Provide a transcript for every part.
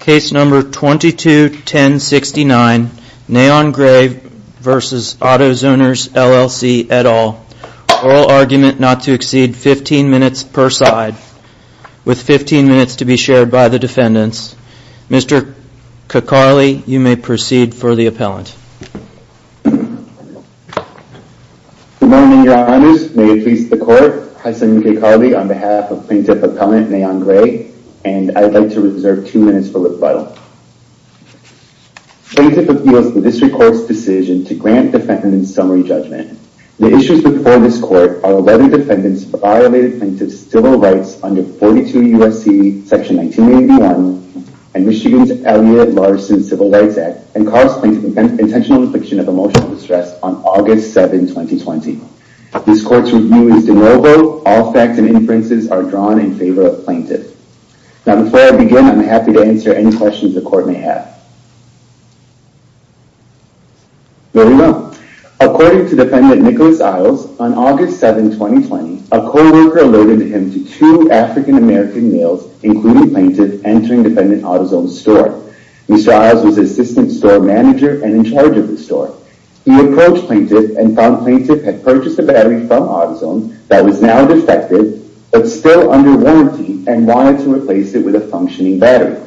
Case number 22-1069 Neon Gray v. Autozoners LLC et al. Oral argument not to exceed 15 minutes per side, with 15 minutes to be shared by the defendants. Mr. Cacarli, you may proceed for the appellant. Good morning, your honors. May it please the court, I'm Cacarli on behalf of Plaintiff Appellant Neon Gray, and I'd like to reserve two minutes for rebuttal. Plaintiff appeals the district court's decision to grant defendants summary judgment. The issues before this court are 11 defendants who violated plaintiff's civil rights under 42 U.S.C. section 1981 and Michigan's Elliot Larson Civil Rights Act and caused plaintiff intentional infliction of emotional distress on August 7, 2020. This court's review is de novo. All facts and inferences are drawn in favor of plaintiff. Now, before I begin, I'm happy to answer any questions the court may have. Very well. According to defendant Nicholas Isles, on August 7, 2020, a co-worker alerted him to two African-American males, including plaintiff, entering defendant Autozone's store. Mr. Isles was assistant store manager and in charge of the store. He approached plaintiff and found plaintiff had purchased a battery from Autozone that was now defective but still under warranty and wanted to replace it with a functioning battery.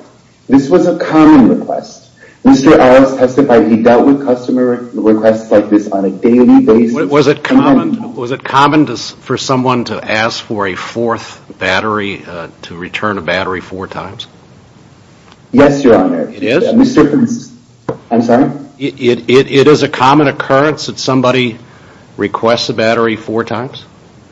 This was a common request. Mr. Isles testified he dealt with customer requests like this on a daily basis. Was it common for someone to ask for a fourth battery, to return a battery four times? Yes, your honor. It is? I'm sorry? It is a common occurrence that somebody requests a battery four times?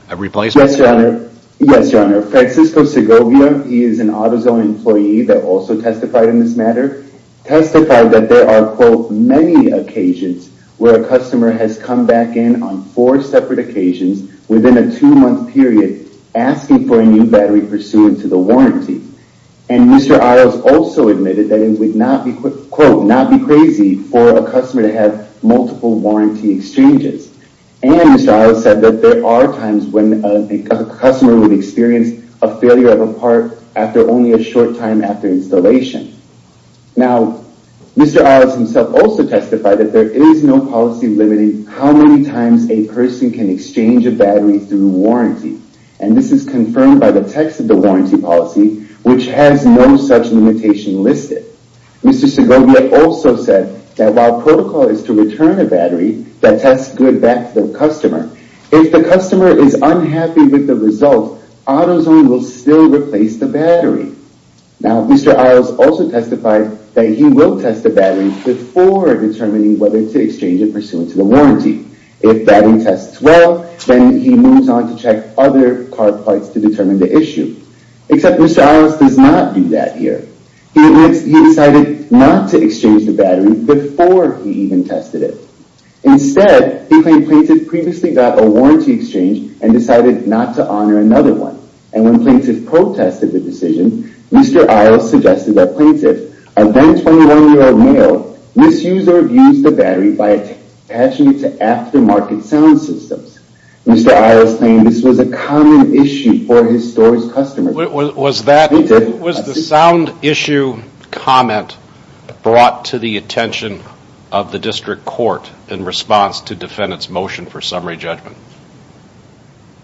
Yes, your honor. Yes, your honor. Francisco Segovia is an Autozone employee that also testified in this matter, testified that there are, quote, many occasions where a customer has come back in on four separate occasions within a two-month period asking for a new battery pursuant to the warranty. And Mr. Isles also admitted that it would not be, quote, not be crazy for a customer to have multiple warranty exchanges. And Mr. Isles said that there are times when a customer would experience a failure of a part after only a short time after installation. Now, Mr. Isles himself also testified that there is no policy limiting how many times a person can exchange a battery through warranty. And this is confirmed by the text of the warranty policy, which has no such limitation listed. Mr. Segovia also said that while protocol is to return a battery that tests good back to the customer, if the customer is unhappy with the result, Autozone will still replace the battery. Now, Mr. Isles also testified that he will test the battery before determining whether to exchange it pursuant to the warranty. If the battery tests well, then he moves on to check other car parts to determine the issue. Except Mr. Isles does not do that here. He decided not to exchange the battery before he even tested it. Instead, he claimed Plaintiff previously got a warranty exchange and decided not to honor another one. And when Plaintiff protested the decision, Mr. Isles suggested that Plaintiff, a then 21-year-old male, misuse or abuse the battery by attaching it to aftermarket sound systems. Mr. Isles claimed this was a common issue for his store's customers. Was the sound issue comment brought to the attention of the district court in response to defendant's motion for summary judgment?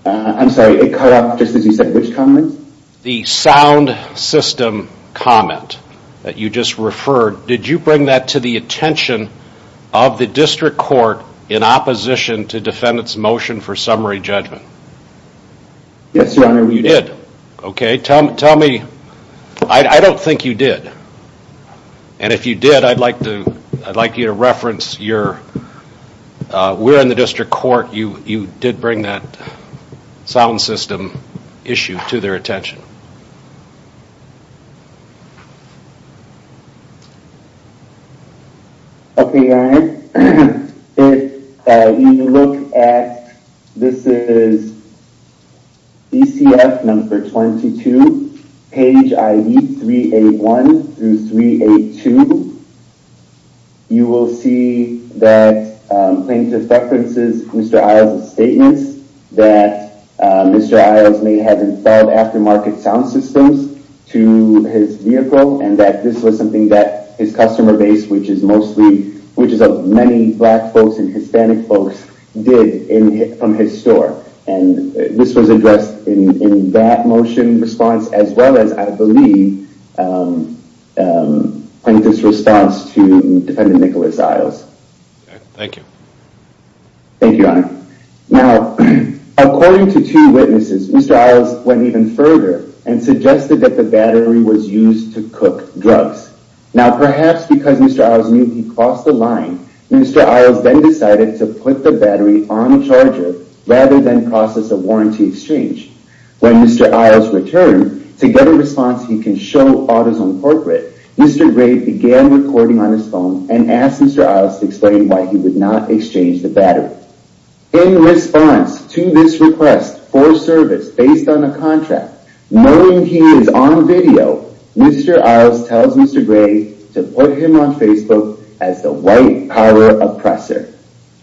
I'm sorry, it cut off just as you said which comment? The sound system comment that you just referred, did you bring that to the attention of the district court in opposition to defendant's motion for summary judgment? Yes, your honor. Okay, tell me, I don't think you did. And if you did, I'd like you to reference your, we're in the district court, you did bring that sound system issue to their attention. Okay, your honor, if you look at, this is BCF number 22, page ID 381 through 382, you will see that Plaintiff references Mr. Isles' statements that Mr. Isles may have installed aftermarket sound systems. To his vehicle and that this was something that his customer base, which is mostly, which is of many black folks and Hispanic folks, did from his store. And this was addressed in that motion response as well as, I believe, Plaintiff's response to defendant Nicholas Isles. Okay, thank you. Thank you, your honor. Now, according to two witnesses, Mr. Isles went even further and suggested that the battery was used to cook drugs. Now, perhaps because Mr. Isles knew he crossed the line, Mr. Isles then decided to put the battery on the charger rather than process a warranty exchange. When Mr. Isles returned to get a response he can show AutoZone corporate, Mr. Gray began recording on his phone and asked Mr. Isles to explain why he would not exchange the battery. In response to this request for service based on a contract, knowing he is on video, Mr. Isles tells Mr. Gray to put him on Facebook as the white power oppressor.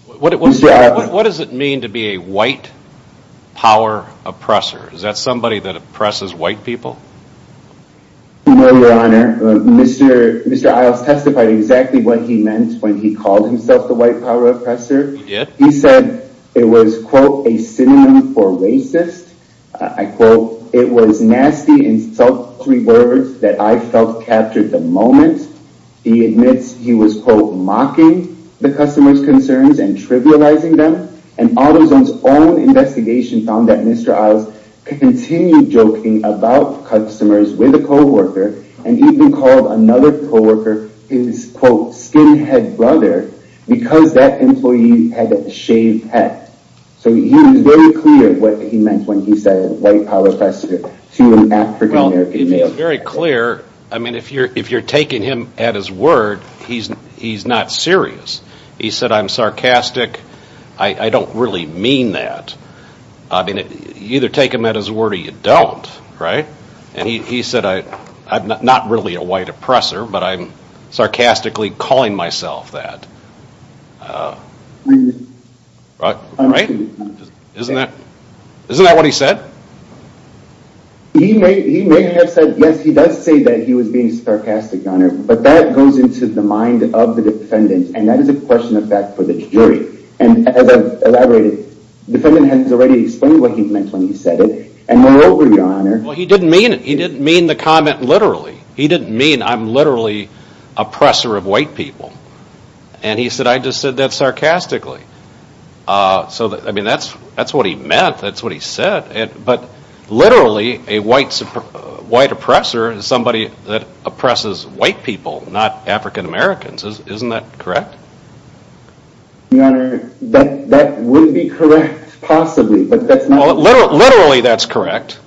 What does it mean to be a white power oppressor? Is that somebody that oppresses white people? No, your honor. Mr. Isles testified exactly what he meant when he called himself the white power oppressor. He did? He admitted that it was, quote, a synonym for racist. I quote, it was nasty, insulting words that I felt captured the moment. He admits he was, quote, mocking the customer's concerns and trivializing them. And AutoZone's own investigation found that Mr. Isles continued joking about customers with a co-worker and even called another co-worker his, quote, skinhead brother because that employee had a shaved head. So he was very clear what he meant when he said white power oppressor to an African American male. I mean, if you're taking him at his word, he's not serious. He said I'm sarcastic. I don't really mean that. I mean, you either take him at his word or you don't. Right? And he said I'm not really a white oppressor, but I'm sarcastically calling myself that. Right? Isn't that what he said? He may have said, yes, he does say that he was being sarcastic, Your Honor, but that goes into the mind of the defendant. And that is a question of fact for the jury. And as I've elaborated, the defendant has already explained what he meant when he said it. And moreover, Your Honor. Well, he didn't mean it. He didn't mean the comment literally. He didn't mean I'm literally oppressor of white people. And he said, I just said that sarcastically. So, I mean, that's what he meant. That's what he said. But literally, a white oppressor is somebody that oppresses white people, not African Americans. Isn't that correct? Your Honor, that would be correct, possibly. Literally, that's correct.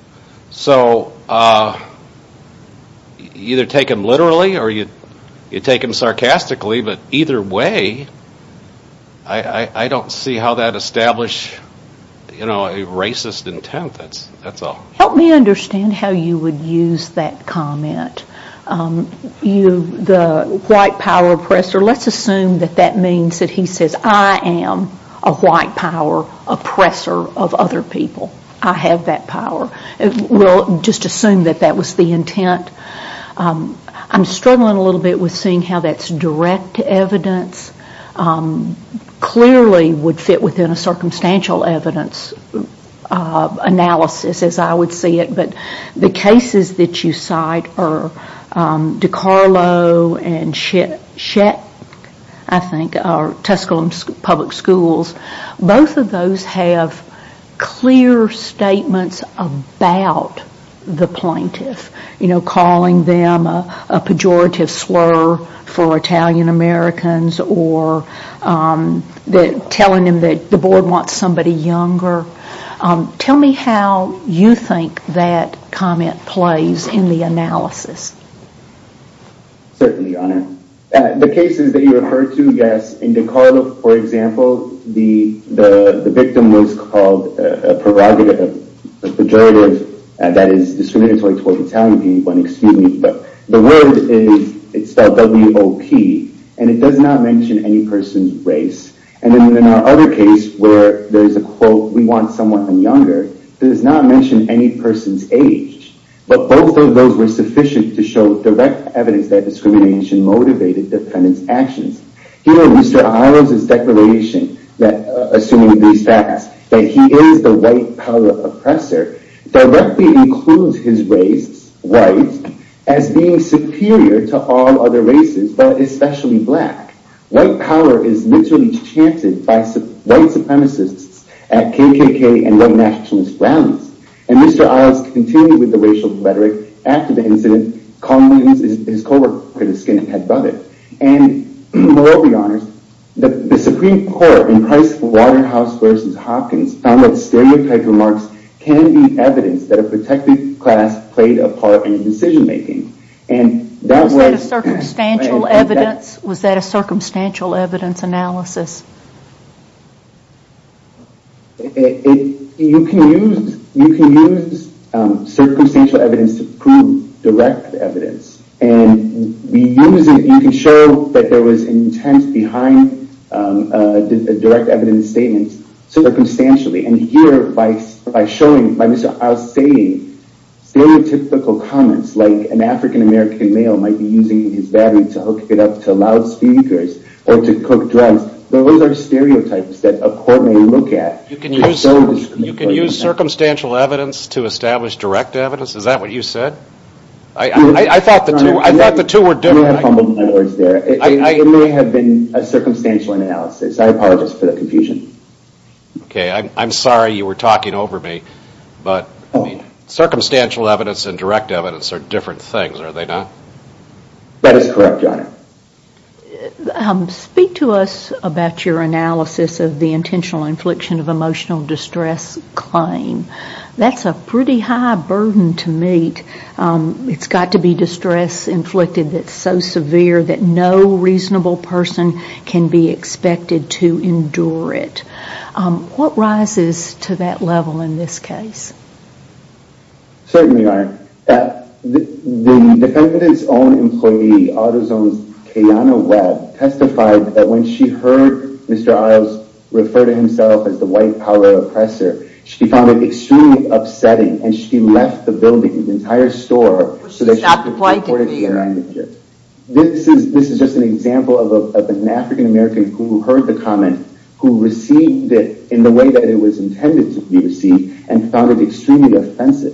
So you either take him literally or you take him sarcastically. But either way, I don't see how that establishes a racist intent. That's all. Help me understand how you would use that comment. The white power oppressor, let's assume that that means that he says, I am a white power oppressor of other people. I have that power. We'll just assume that that was the intent. I'm struggling a little bit with seeing how that's direct evidence. Clearly would fit within a circumstantial evidence analysis, as I would see it. But the cases that you cite are DiCarlo and Shett, I think, or Tuscaloosa Public Schools. Both of those have clear statements about the plaintiff. You know, calling them a pejorative slur for Italian Americans or telling them that the board wants somebody younger. Tell me how you think that comment plays in the analysis. Certainly, Your Honor. The cases that you refer to, yes, in DiCarlo, for example, the victim was called a pejorative that is discriminatory towards Italian people. The word is spelled W-O-P, and it does not mention any person's race. In our other case, where there's a quote, we want someone younger, it does not mention any person's age. But both of those were sufficient to show direct evidence that discrimination motivated the defendant's actions. You know, Mr. Isles' declaration, assuming these facts, that he is the white power oppressor, directly includes his race, white, as being superior to all other races, but especially black. White power is literally enchanted by white supremacists at KKK and white nationalist grounds. And Mr. Isles continued with the racial rhetoric after the incident, calling his coworker the skinhead brother. And, Your Honor, the Supreme Court in Pricewaterhouse v. Hopkins found that stereotyped remarks can be evidence that a protected class played a part in decision making. Was that a circumstantial evidence analysis? You can use circumstantial evidence to prove direct evidence. And you can show that there was intent behind direct evidence statements circumstantially. And here, by showing, by Mr. Isles' saying, stereotypical comments, like an African American male might be using his battery to hook it up to loudspeakers or to cook drugs, those are stereotypes that a court may look at. You can use circumstantial evidence to establish direct evidence? Is that what you said? I thought the two were different. It may have been a circumstantial analysis. I apologize for the confusion. Okay, I'm sorry you were talking over me. Circumstantial evidence and direct evidence are different things, are they not? That is correct, Your Honor. Speak to us about your analysis of the intentional infliction of emotional distress claim. That's a pretty high burden to meet. It's got to be distress inflicted that's so severe that no reasonable person can be expected to endure it. What rises to that level in this case? Certainly, Your Honor. The defendant's own employee, AutoZone's Kayanna Webb, testified that when she heard Mr. Isles refer to himself as the white power oppressor, she found it extremely upsetting and she left the building, the entire store, so that she could report it to her manager. This is just an example of an African American who heard the comment, who received it in the way that it was intended to be received, and found it extremely offensive.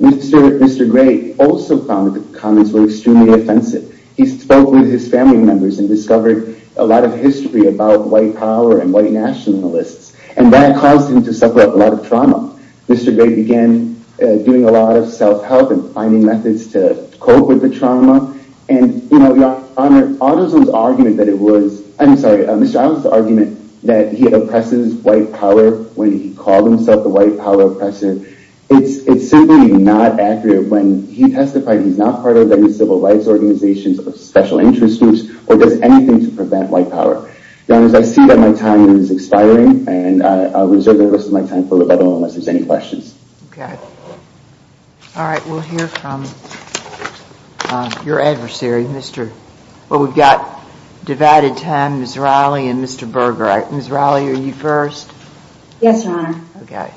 Mr. Gray also found the comments were extremely offensive. He spoke with his family members and discovered a lot of history about white power and white nationalists, and that caused him to suffer a lot of trauma. Mr. Gray began doing a lot of self-help and finding methods to cope with the trauma, and Your Honor, Mr. Isles' argument that he oppresses white power when he called himself the white power oppressor, it's simply not accurate when he testified he's not part of any civil rights organizations or special interest groups or does anything to prevent white power. Your Honor, I see that my time is expiring, and I'll reserve the rest of my time for the webinar unless there's any questions. Okay. All right, we'll hear from your adversary, Mr. Well, we've got divided time, Ms. Riley and Mr. Berger. Ms. Riley, are you first? Yes, Your Honor. Okay.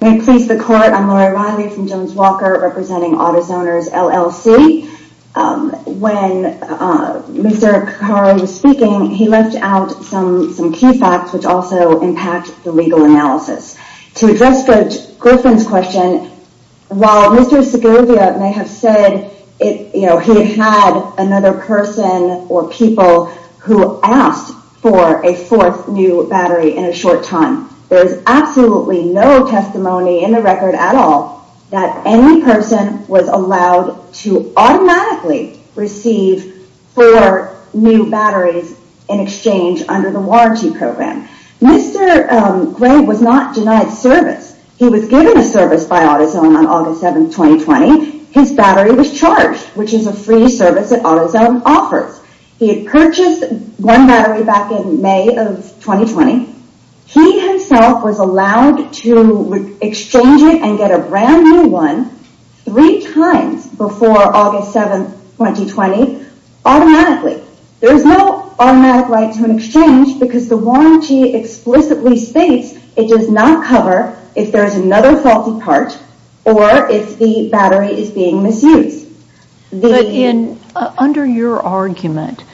May it please the Court, I'm Lori Riley from Jones Walker, representing AutoZoners LLC. When Mr. Carr was speaking, he left out some key facts which also impact the legal analysis. To address the Griffin's question, while Mr. Segovia may have said he had another person or people who asked for a fourth new battery in a short time, there's absolutely no testimony in the record at all that any person was allowed to automatically receive four new batteries in exchange under the warranty program. Mr. Gray was not denied service. He was given a service by AutoZone on August 7, 2020. His battery was charged, which is a free service that AutoZone offers. He had purchased one battery back in May of 2020. He himself was allowed to exchange it and get a brand new one three times before August 7, 2020 automatically. There is no automatic right to an exchange because the warranty explicitly states it does not cover if there is another faulty part or if the battery is being misused. But under your argument,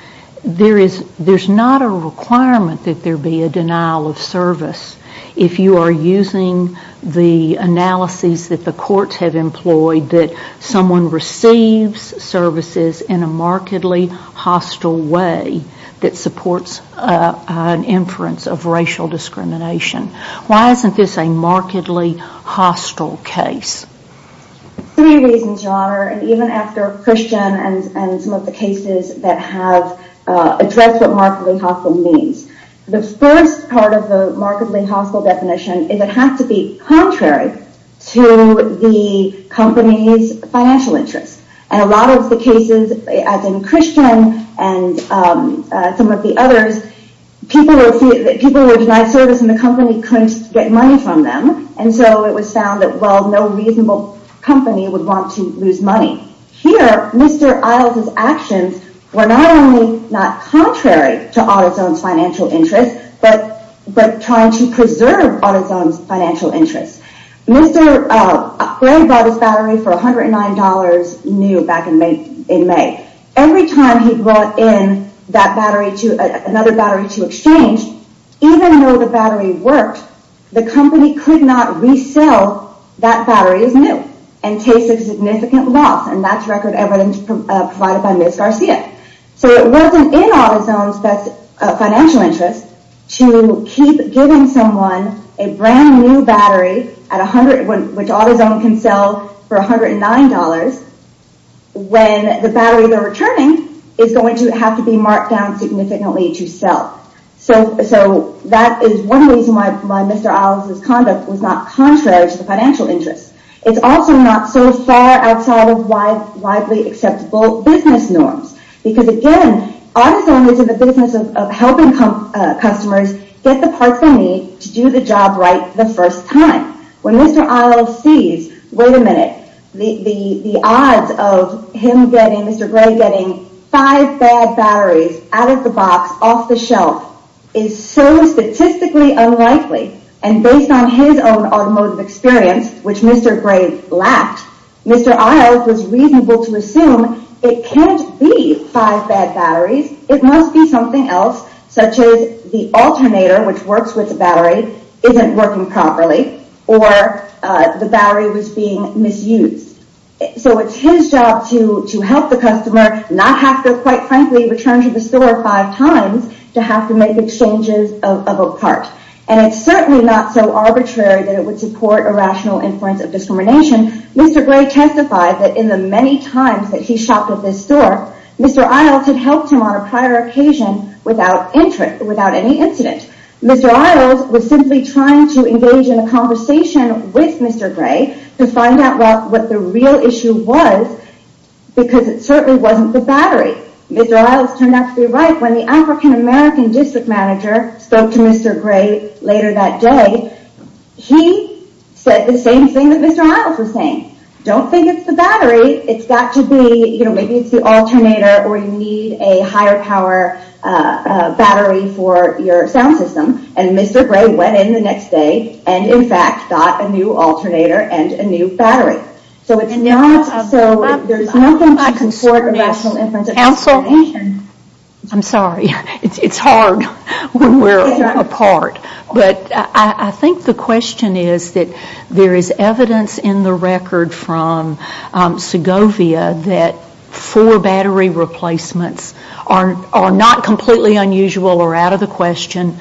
there's not a requirement that there be a denial of service if you are using the analyses that the courts have employed that someone receives services in a markedly hostile way that supports an inference of racial discrimination. Why isn't this a markedly hostile case? Three reasons, Your Honor, and even after Christian and some of the cases that have addressed what markedly hostile means. The first part of the markedly hostile definition is it has to be contrary to the company's financial interests. And a lot of the cases, as in Christian and some of the others, people were denied service and the company couldn't get money from them. And so it was found that, well, no reasonable company would want to lose money. Here, Mr. Isles' actions were not only not contrary to AutoZone's financial interests, but trying to preserve AutoZone's financial interests. Mr. Gray bought his battery for $109 new back in May. Every time he brought in another battery to exchange, even though the battery worked, the company could not resell that battery as new and face a significant loss. And that's record evidence provided by Ms. Garcia. So it wasn't in AutoZone's financial interests to keep giving someone a brand new battery, which AutoZone can sell for $109, when the battery they're returning is going to have to be marked down significantly to sell. So that is one reason why Mr. Isles' conduct was not contrary to the financial interests. It's also not so far outside of widely acceptable business norms. Because, again, AutoZone is in the business of helping customers get the parts they need to do the job right the first time. When Mr. Isles sees, wait a minute, the odds of Mr. Gray getting five bad batteries out of the box, off the shelf, is so statistically unlikely. And based on his own automotive experience, which Mr. Gray lacked, Mr. Isles was reasonable to assume it can't be five bad batteries. It must be something else, such as the alternator, which works with the battery, isn't working properly. Or the battery was being misused. So it's his job to help the customer not have to, quite frankly, return to the store five times to have to make exchanges of a part. And it's certainly not so arbitrary that it would support a rational inference of discrimination. Mr. Gray testified that in the many times that he shopped at this store, Mr. Isles had helped him on a prior occasion without any incident. Mr. Isles was simply trying to engage in a conversation with Mr. Gray to find out what the real issue was, because it certainly wasn't the battery. Mr. Isles turned out to be right when the African-American district manager spoke to Mr. Gray later that day. He said the same thing that Mr. Isles was saying. Don't think it's the battery. It's got to be, you know, maybe it's the alternator or you need a higher power battery for your sound system. And Mr. Gray went in the next day and, in fact, got a new alternator and a new battery. So there's nothing to support a rational inference of discrimination. I'm sorry. It's hard when we're apart. But I think the question is that there is evidence in the record from Segovia that four battery replacements are not completely unusual or out of the question.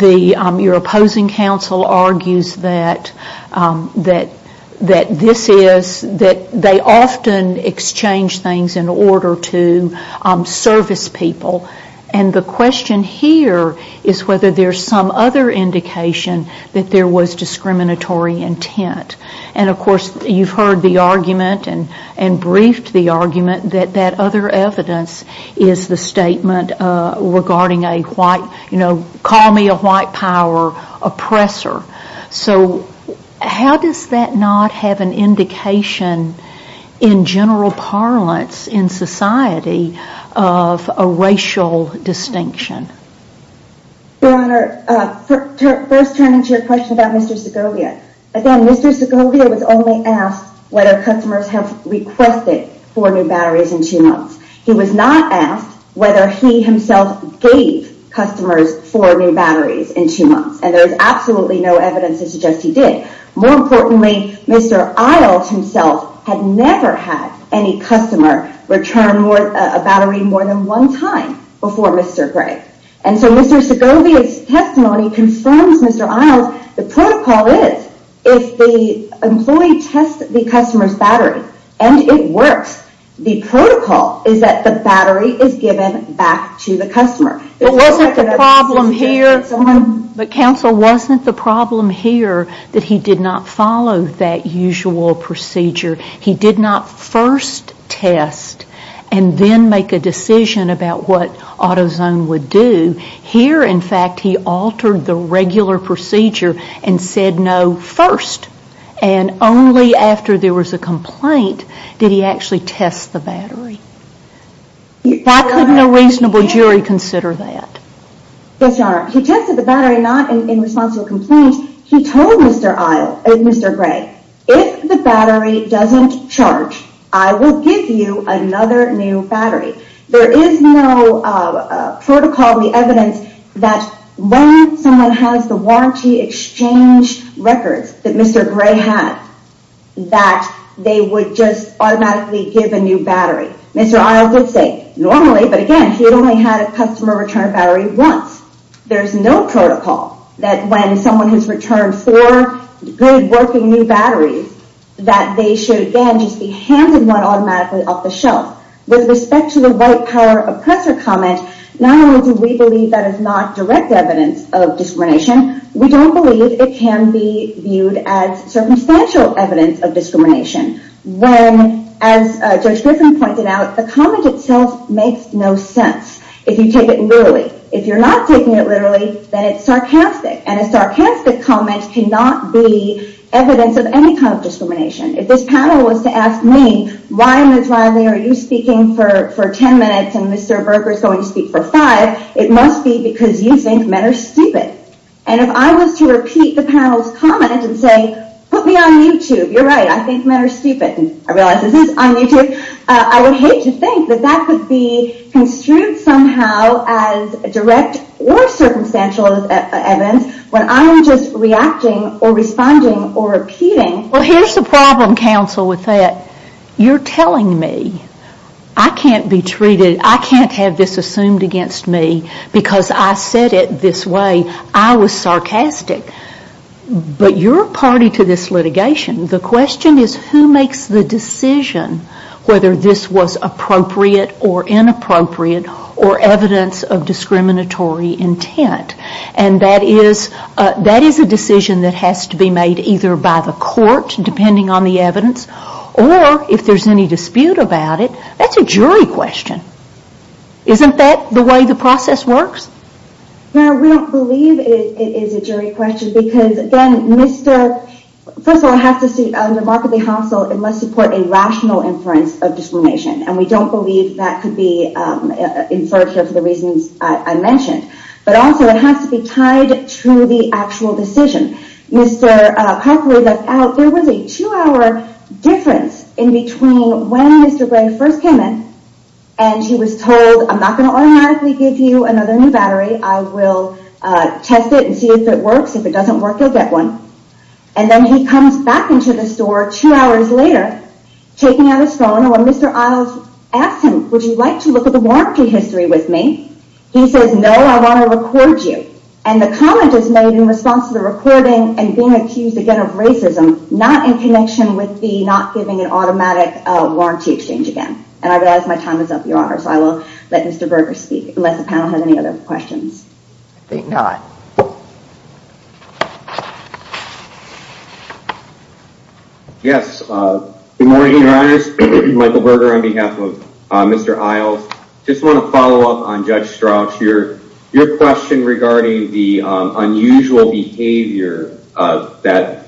Your opposing counsel argues that this is, that they often exchange things in order to service people. And the question here is whether there's some other indication that there was discriminatory intent. And, of course, you've heard the argument and briefed the argument that that other evidence is the statement regarding a white, you know, call me a white power oppressor. So how does that not have an indication in general parlance in society of a racial distinction? Your Honor, first turn into a question about Mr. Segovia. Again, Mr. Segovia was only asked whether customers have requested four new batteries in two months. He was not asked whether he himself gave customers four new batteries in two months. And there is absolutely no evidence to suggest he did. More importantly, Mr. Isles himself had never had any customer return a battery more than one time before Mr. Gray. And so Mr. Segovia's testimony confirms Mr. Isles. The protocol is if the employee tests the customer's battery and it works, the protocol is that the battery is given back to the customer. It wasn't the problem here, but counsel, wasn't the problem here that he did not follow that usual procedure. He did not first test and then make a decision about what AutoZone would do. Here, in fact, he altered the regular procedure and said no first. And only after there was a complaint did he actually test the battery. Why couldn't a reasonable jury consider that? Yes, Your Honor. He tested the battery not in response to a complaint. He told Mr. Gray, if the battery doesn't charge, I will give you another new battery. There is no protocol in the evidence that when someone has the warranty exchange records that Mr. Gray had, that they would just automatically give a new battery. Mr. Isles would say normally, but again, he had only had a customer return a battery once. There's no protocol that when someone has returned four good working new batteries, that they should again just be handed one automatically off the shelf. With respect to the white power oppressor comment, not only do we believe that is not direct evidence of discrimination, we don't believe it can be viewed as circumstantial evidence of discrimination. When, as Judge Griffin pointed out, the comment itself makes no sense if you take it literally. If you're not taking it literally, then it's sarcastic. And a sarcastic comment cannot be evidence of any kind of discrimination. If this panel was to ask me, why, Ms. Riley, are you speaking for ten minutes and Mr. Berger is going to speak for five, it must be because you think men are stupid. And if I was to repeat the panel's comment and say, put me on YouTube, you're right, I think men are stupid. I realize this is on YouTube. I would hate to think that that could be construed somehow as direct or circumstantial evidence when I'm just reacting or responding or repeating. Well, here's the problem, counsel, with that. You're telling me I can't be treated, I can't have this assumed against me because I said it this way. I was sarcastic. But you're a party to this litigation. The question is who makes the decision whether this was appropriate or inappropriate or evidence of discriminatory intent. And that is a decision that has to be made either by the court, depending on the evidence, or if there's any dispute about it, that's a jury question. Isn't that the way the process works? No, we don't believe it is a jury question because, again, Mr. First of all, I have to say, remarkably, counsel, it must support a rational inference of discrimination. And we don't believe that could be inferred here for the reasons I mentioned. But also, it has to be tied to the actual decision. Mr. Parker left out there was a two-hour difference in between when Mr. Gray first came in and he was told, I'm not going to automatically give you another new battery. I will test it and see if it works. If it doesn't work, you'll get one. And then he comes back into the store two hours later, taking out his phone. And when Mr. Isles asked him, would you like to look at the warranty history with me, he says, no, I want to record you. And the comment is made in response to the recording and being accused, again, of racism, not in connection with the not giving an automatic warranty exchange again. And I realize my time is up, Your Honor, so I will let Mr. Berger speak, unless the panel has any other questions. I think not. Yes, good morning, Your Honors. Michael Berger on behalf of Mr. Isles. Just want to follow up on Judge Strauch here. Your question regarding the unusual behavior that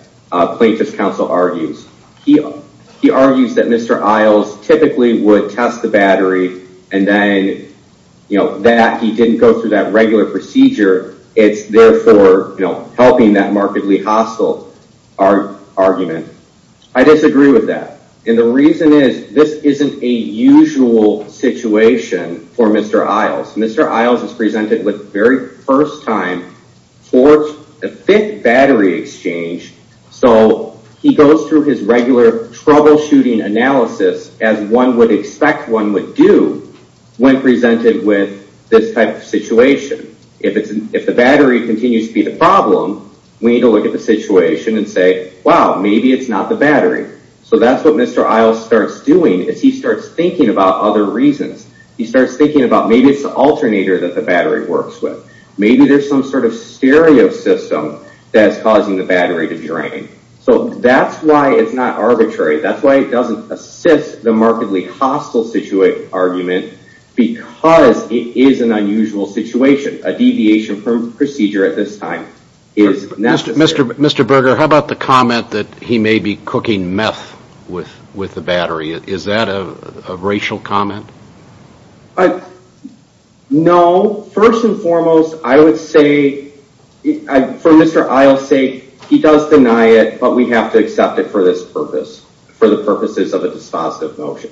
plaintiff's counsel argues. He argues that Mr. Isles typically would test the battery and then that he didn't go through that regular procedure. It's therefore helping that markedly hostile argument. I disagree with that. And the reason is, this isn't a usual situation for Mr. Isles. Mr. Isles is presented with, for the very first time, a fit battery exchange. So he goes through his regular troubleshooting analysis, as one would expect one would do, when presented with this type of situation. If the battery continues to be the problem, we need to look at the situation and say, wow, maybe it's not the battery. So that's what Mr. Isles starts doing, is he starts thinking about other reasons. He starts thinking about maybe it's the alternator that the battery works with. Maybe there's some sort of stereo system that's causing the battery to drain. So that's why it's not arbitrary. That's why it doesn't assist the markedly hostile argument, because it is an unusual situation. A deviation from procedure at this time is necessary. Mr. Berger, how about the comment that he may be cooking meth with the battery? Is that a racial comment? No. First and foremost, I would say, for Mr. Isles' sake, he does deny it, but we have to accept it for this purpose, for the purposes of a dispositive motion.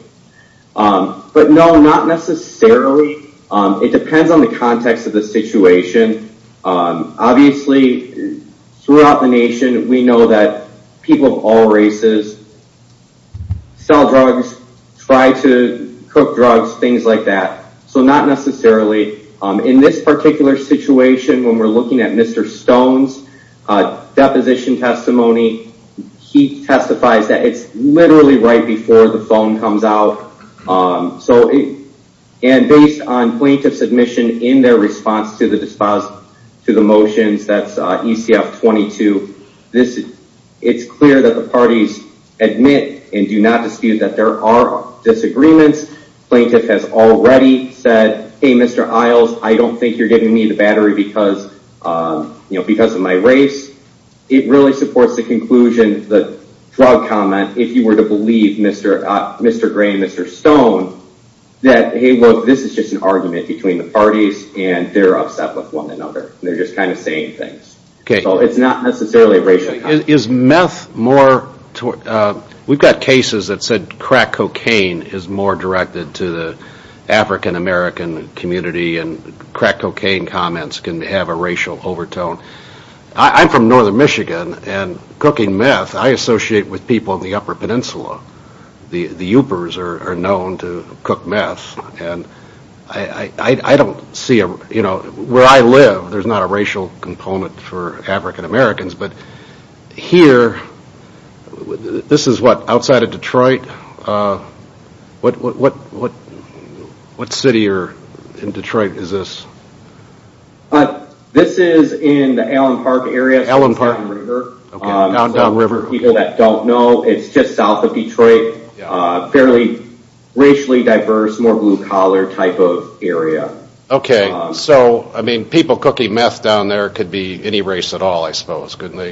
But no, not necessarily. It depends on the context of the situation. Obviously, throughout the nation, we know that people of all races sell drugs, try to cook drugs, things like that. So not necessarily. In this particular situation, when we're looking at Mr. Stone's deposition testimony, he testifies that it's literally right before the phone comes out. And based on plaintiff's admission in their response to the motions, that's ECF 22, it's clear that the parties admit and do not dispute that there are disagreements. Plaintiff has already said, hey, Mr. Isles, I don't think you're giving me the battery because of my race. It really supports the conclusion, the drug comment, if you were to believe Mr. Gray and Mr. Stone, that hey, look, this is just an argument between the parties and they're upset with one another. They're just kind of saying things. So it's not necessarily a racial comment. Is meth more, we've got cases that said crack cocaine is more directed to the African American community and crack cocaine comments can have a racial overtone. I'm from northern Michigan and cooking meth, I associate with people in the upper peninsula. The Yupers are known to cook meth. And I don't see, you know, where I live, there's not a racial component for African Americans. But here, this is what, outside of Detroit? What city or in Detroit is this? This is in the Allen Park area. Allen Park. Downriver. For people that don't know, it's just south of Detroit. Fairly racially diverse, more blue collar type of area. Okay. So, I mean, people cooking meth down there could be any race at all, I suppose, couldn't they?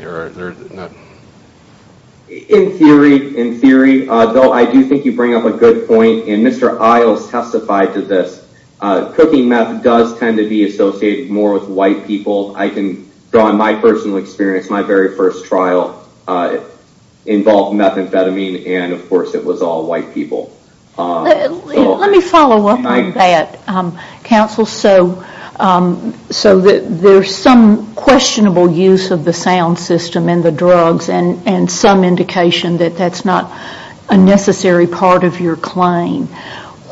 In theory, in theory, though, I do think you bring up a good point. And Mr. Isles testified to this. Cooking meth does tend to be associated more with white people. I can draw on my personal experience. My very first trial involved methamphetamine and, of course, it was all white people. Let me follow up on that, counsel. So there's some questionable use of the sound system and the drugs and some indication that that's not a necessary part of your claim.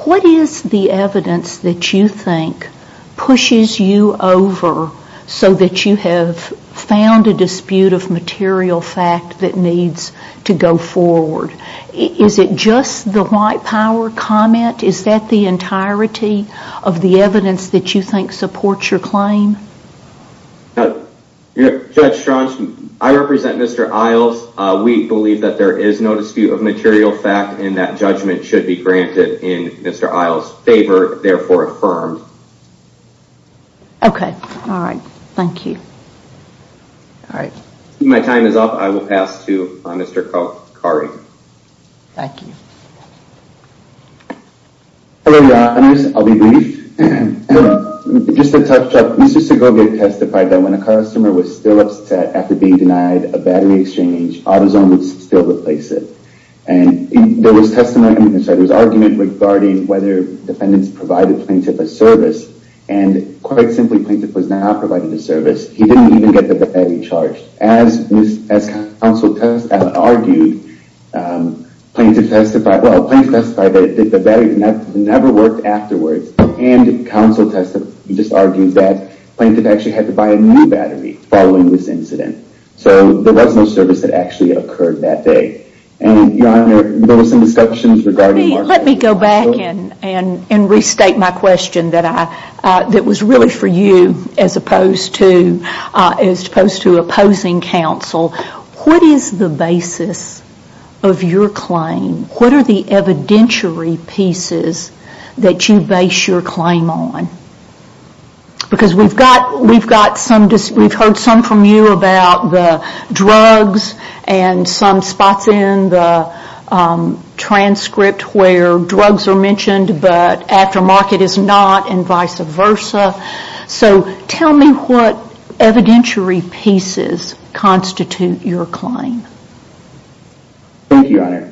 What is the evidence that you think pushes you over so that you have found a dispute of material fact that needs to go forward? Is it just the white power comment? Is that the entirety of the evidence that you think supports your claim? Judge Strong, I represent Mr. Isles. We believe that there is no dispute of material fact and that judgment should be granted in Mr. Isles' favor, therefore affirmed. Okay. All right. Thank you. All right. My time is up. I will pass to Mr. Khoury. Thank you. Hello, Your Honors. I'll be brief. Just to touch up, Mr. Segovia testified that when a customer was still upset after being denied a battery exchange, AutoZone would still replace it. There was argument regarding whether defendants provided Plaintiff a service, and quite simply, Plaintiff was not provided a service. He didn't even get the battery charged. As counsel argued, Plaintiff testified that the battery never worked afterwards, and counsel just argued that Plaintiff actually had to buy a new battery following this incident. So there was no service that actually occurred that day. And, Your Honor, there were some discussions regarding... Let me go back and restate my question that was really for you, as opposed to opposing counsel. What is the basis of your claim? What are the evidentiary pieces that you base your claim on? Because we've heard some from you about the drugs and some spots in the transcript where drugs are mentioned, but aftermarket is not, and vice versa. So tell me what evidentiary pieces constitute your claim. Thank you, Your Honor.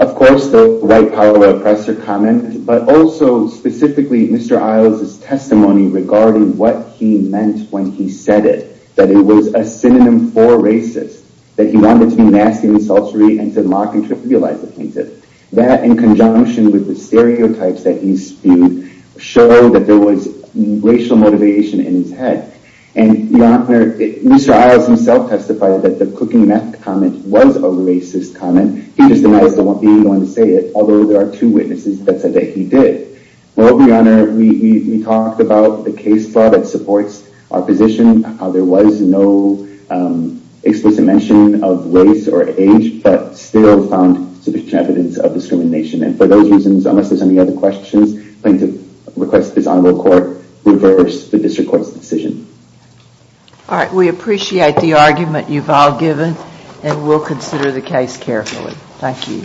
Of course, the right power oppressor comment, but also specifically Mr. Isles' testimony regarding what he meant when he said it, that it was a synonym for racist, that he wanted to be nasty and sultry and to mock and trivialize the plaintiff. That, in conjunction with the stereotypes that he spewed, showed that there was racial motivation in his head. And, Your Honor, Mr. Isles himself testified that the cooking meth comment was a racist comment. He just denies that he even wanted to say it, although there are two witnesses that said that he did. Well, Your Honor, we talked about the case law that supports our position, how there was no explicit mention of race or age, but still found sufficient evidence of discrimination. And for those reasons, unless there's any other questions, I'm going to request that this honorable court reverse the district court's decision. All right, we appreciate the argument you've all given, and we'll consider the case carefully. Thank you.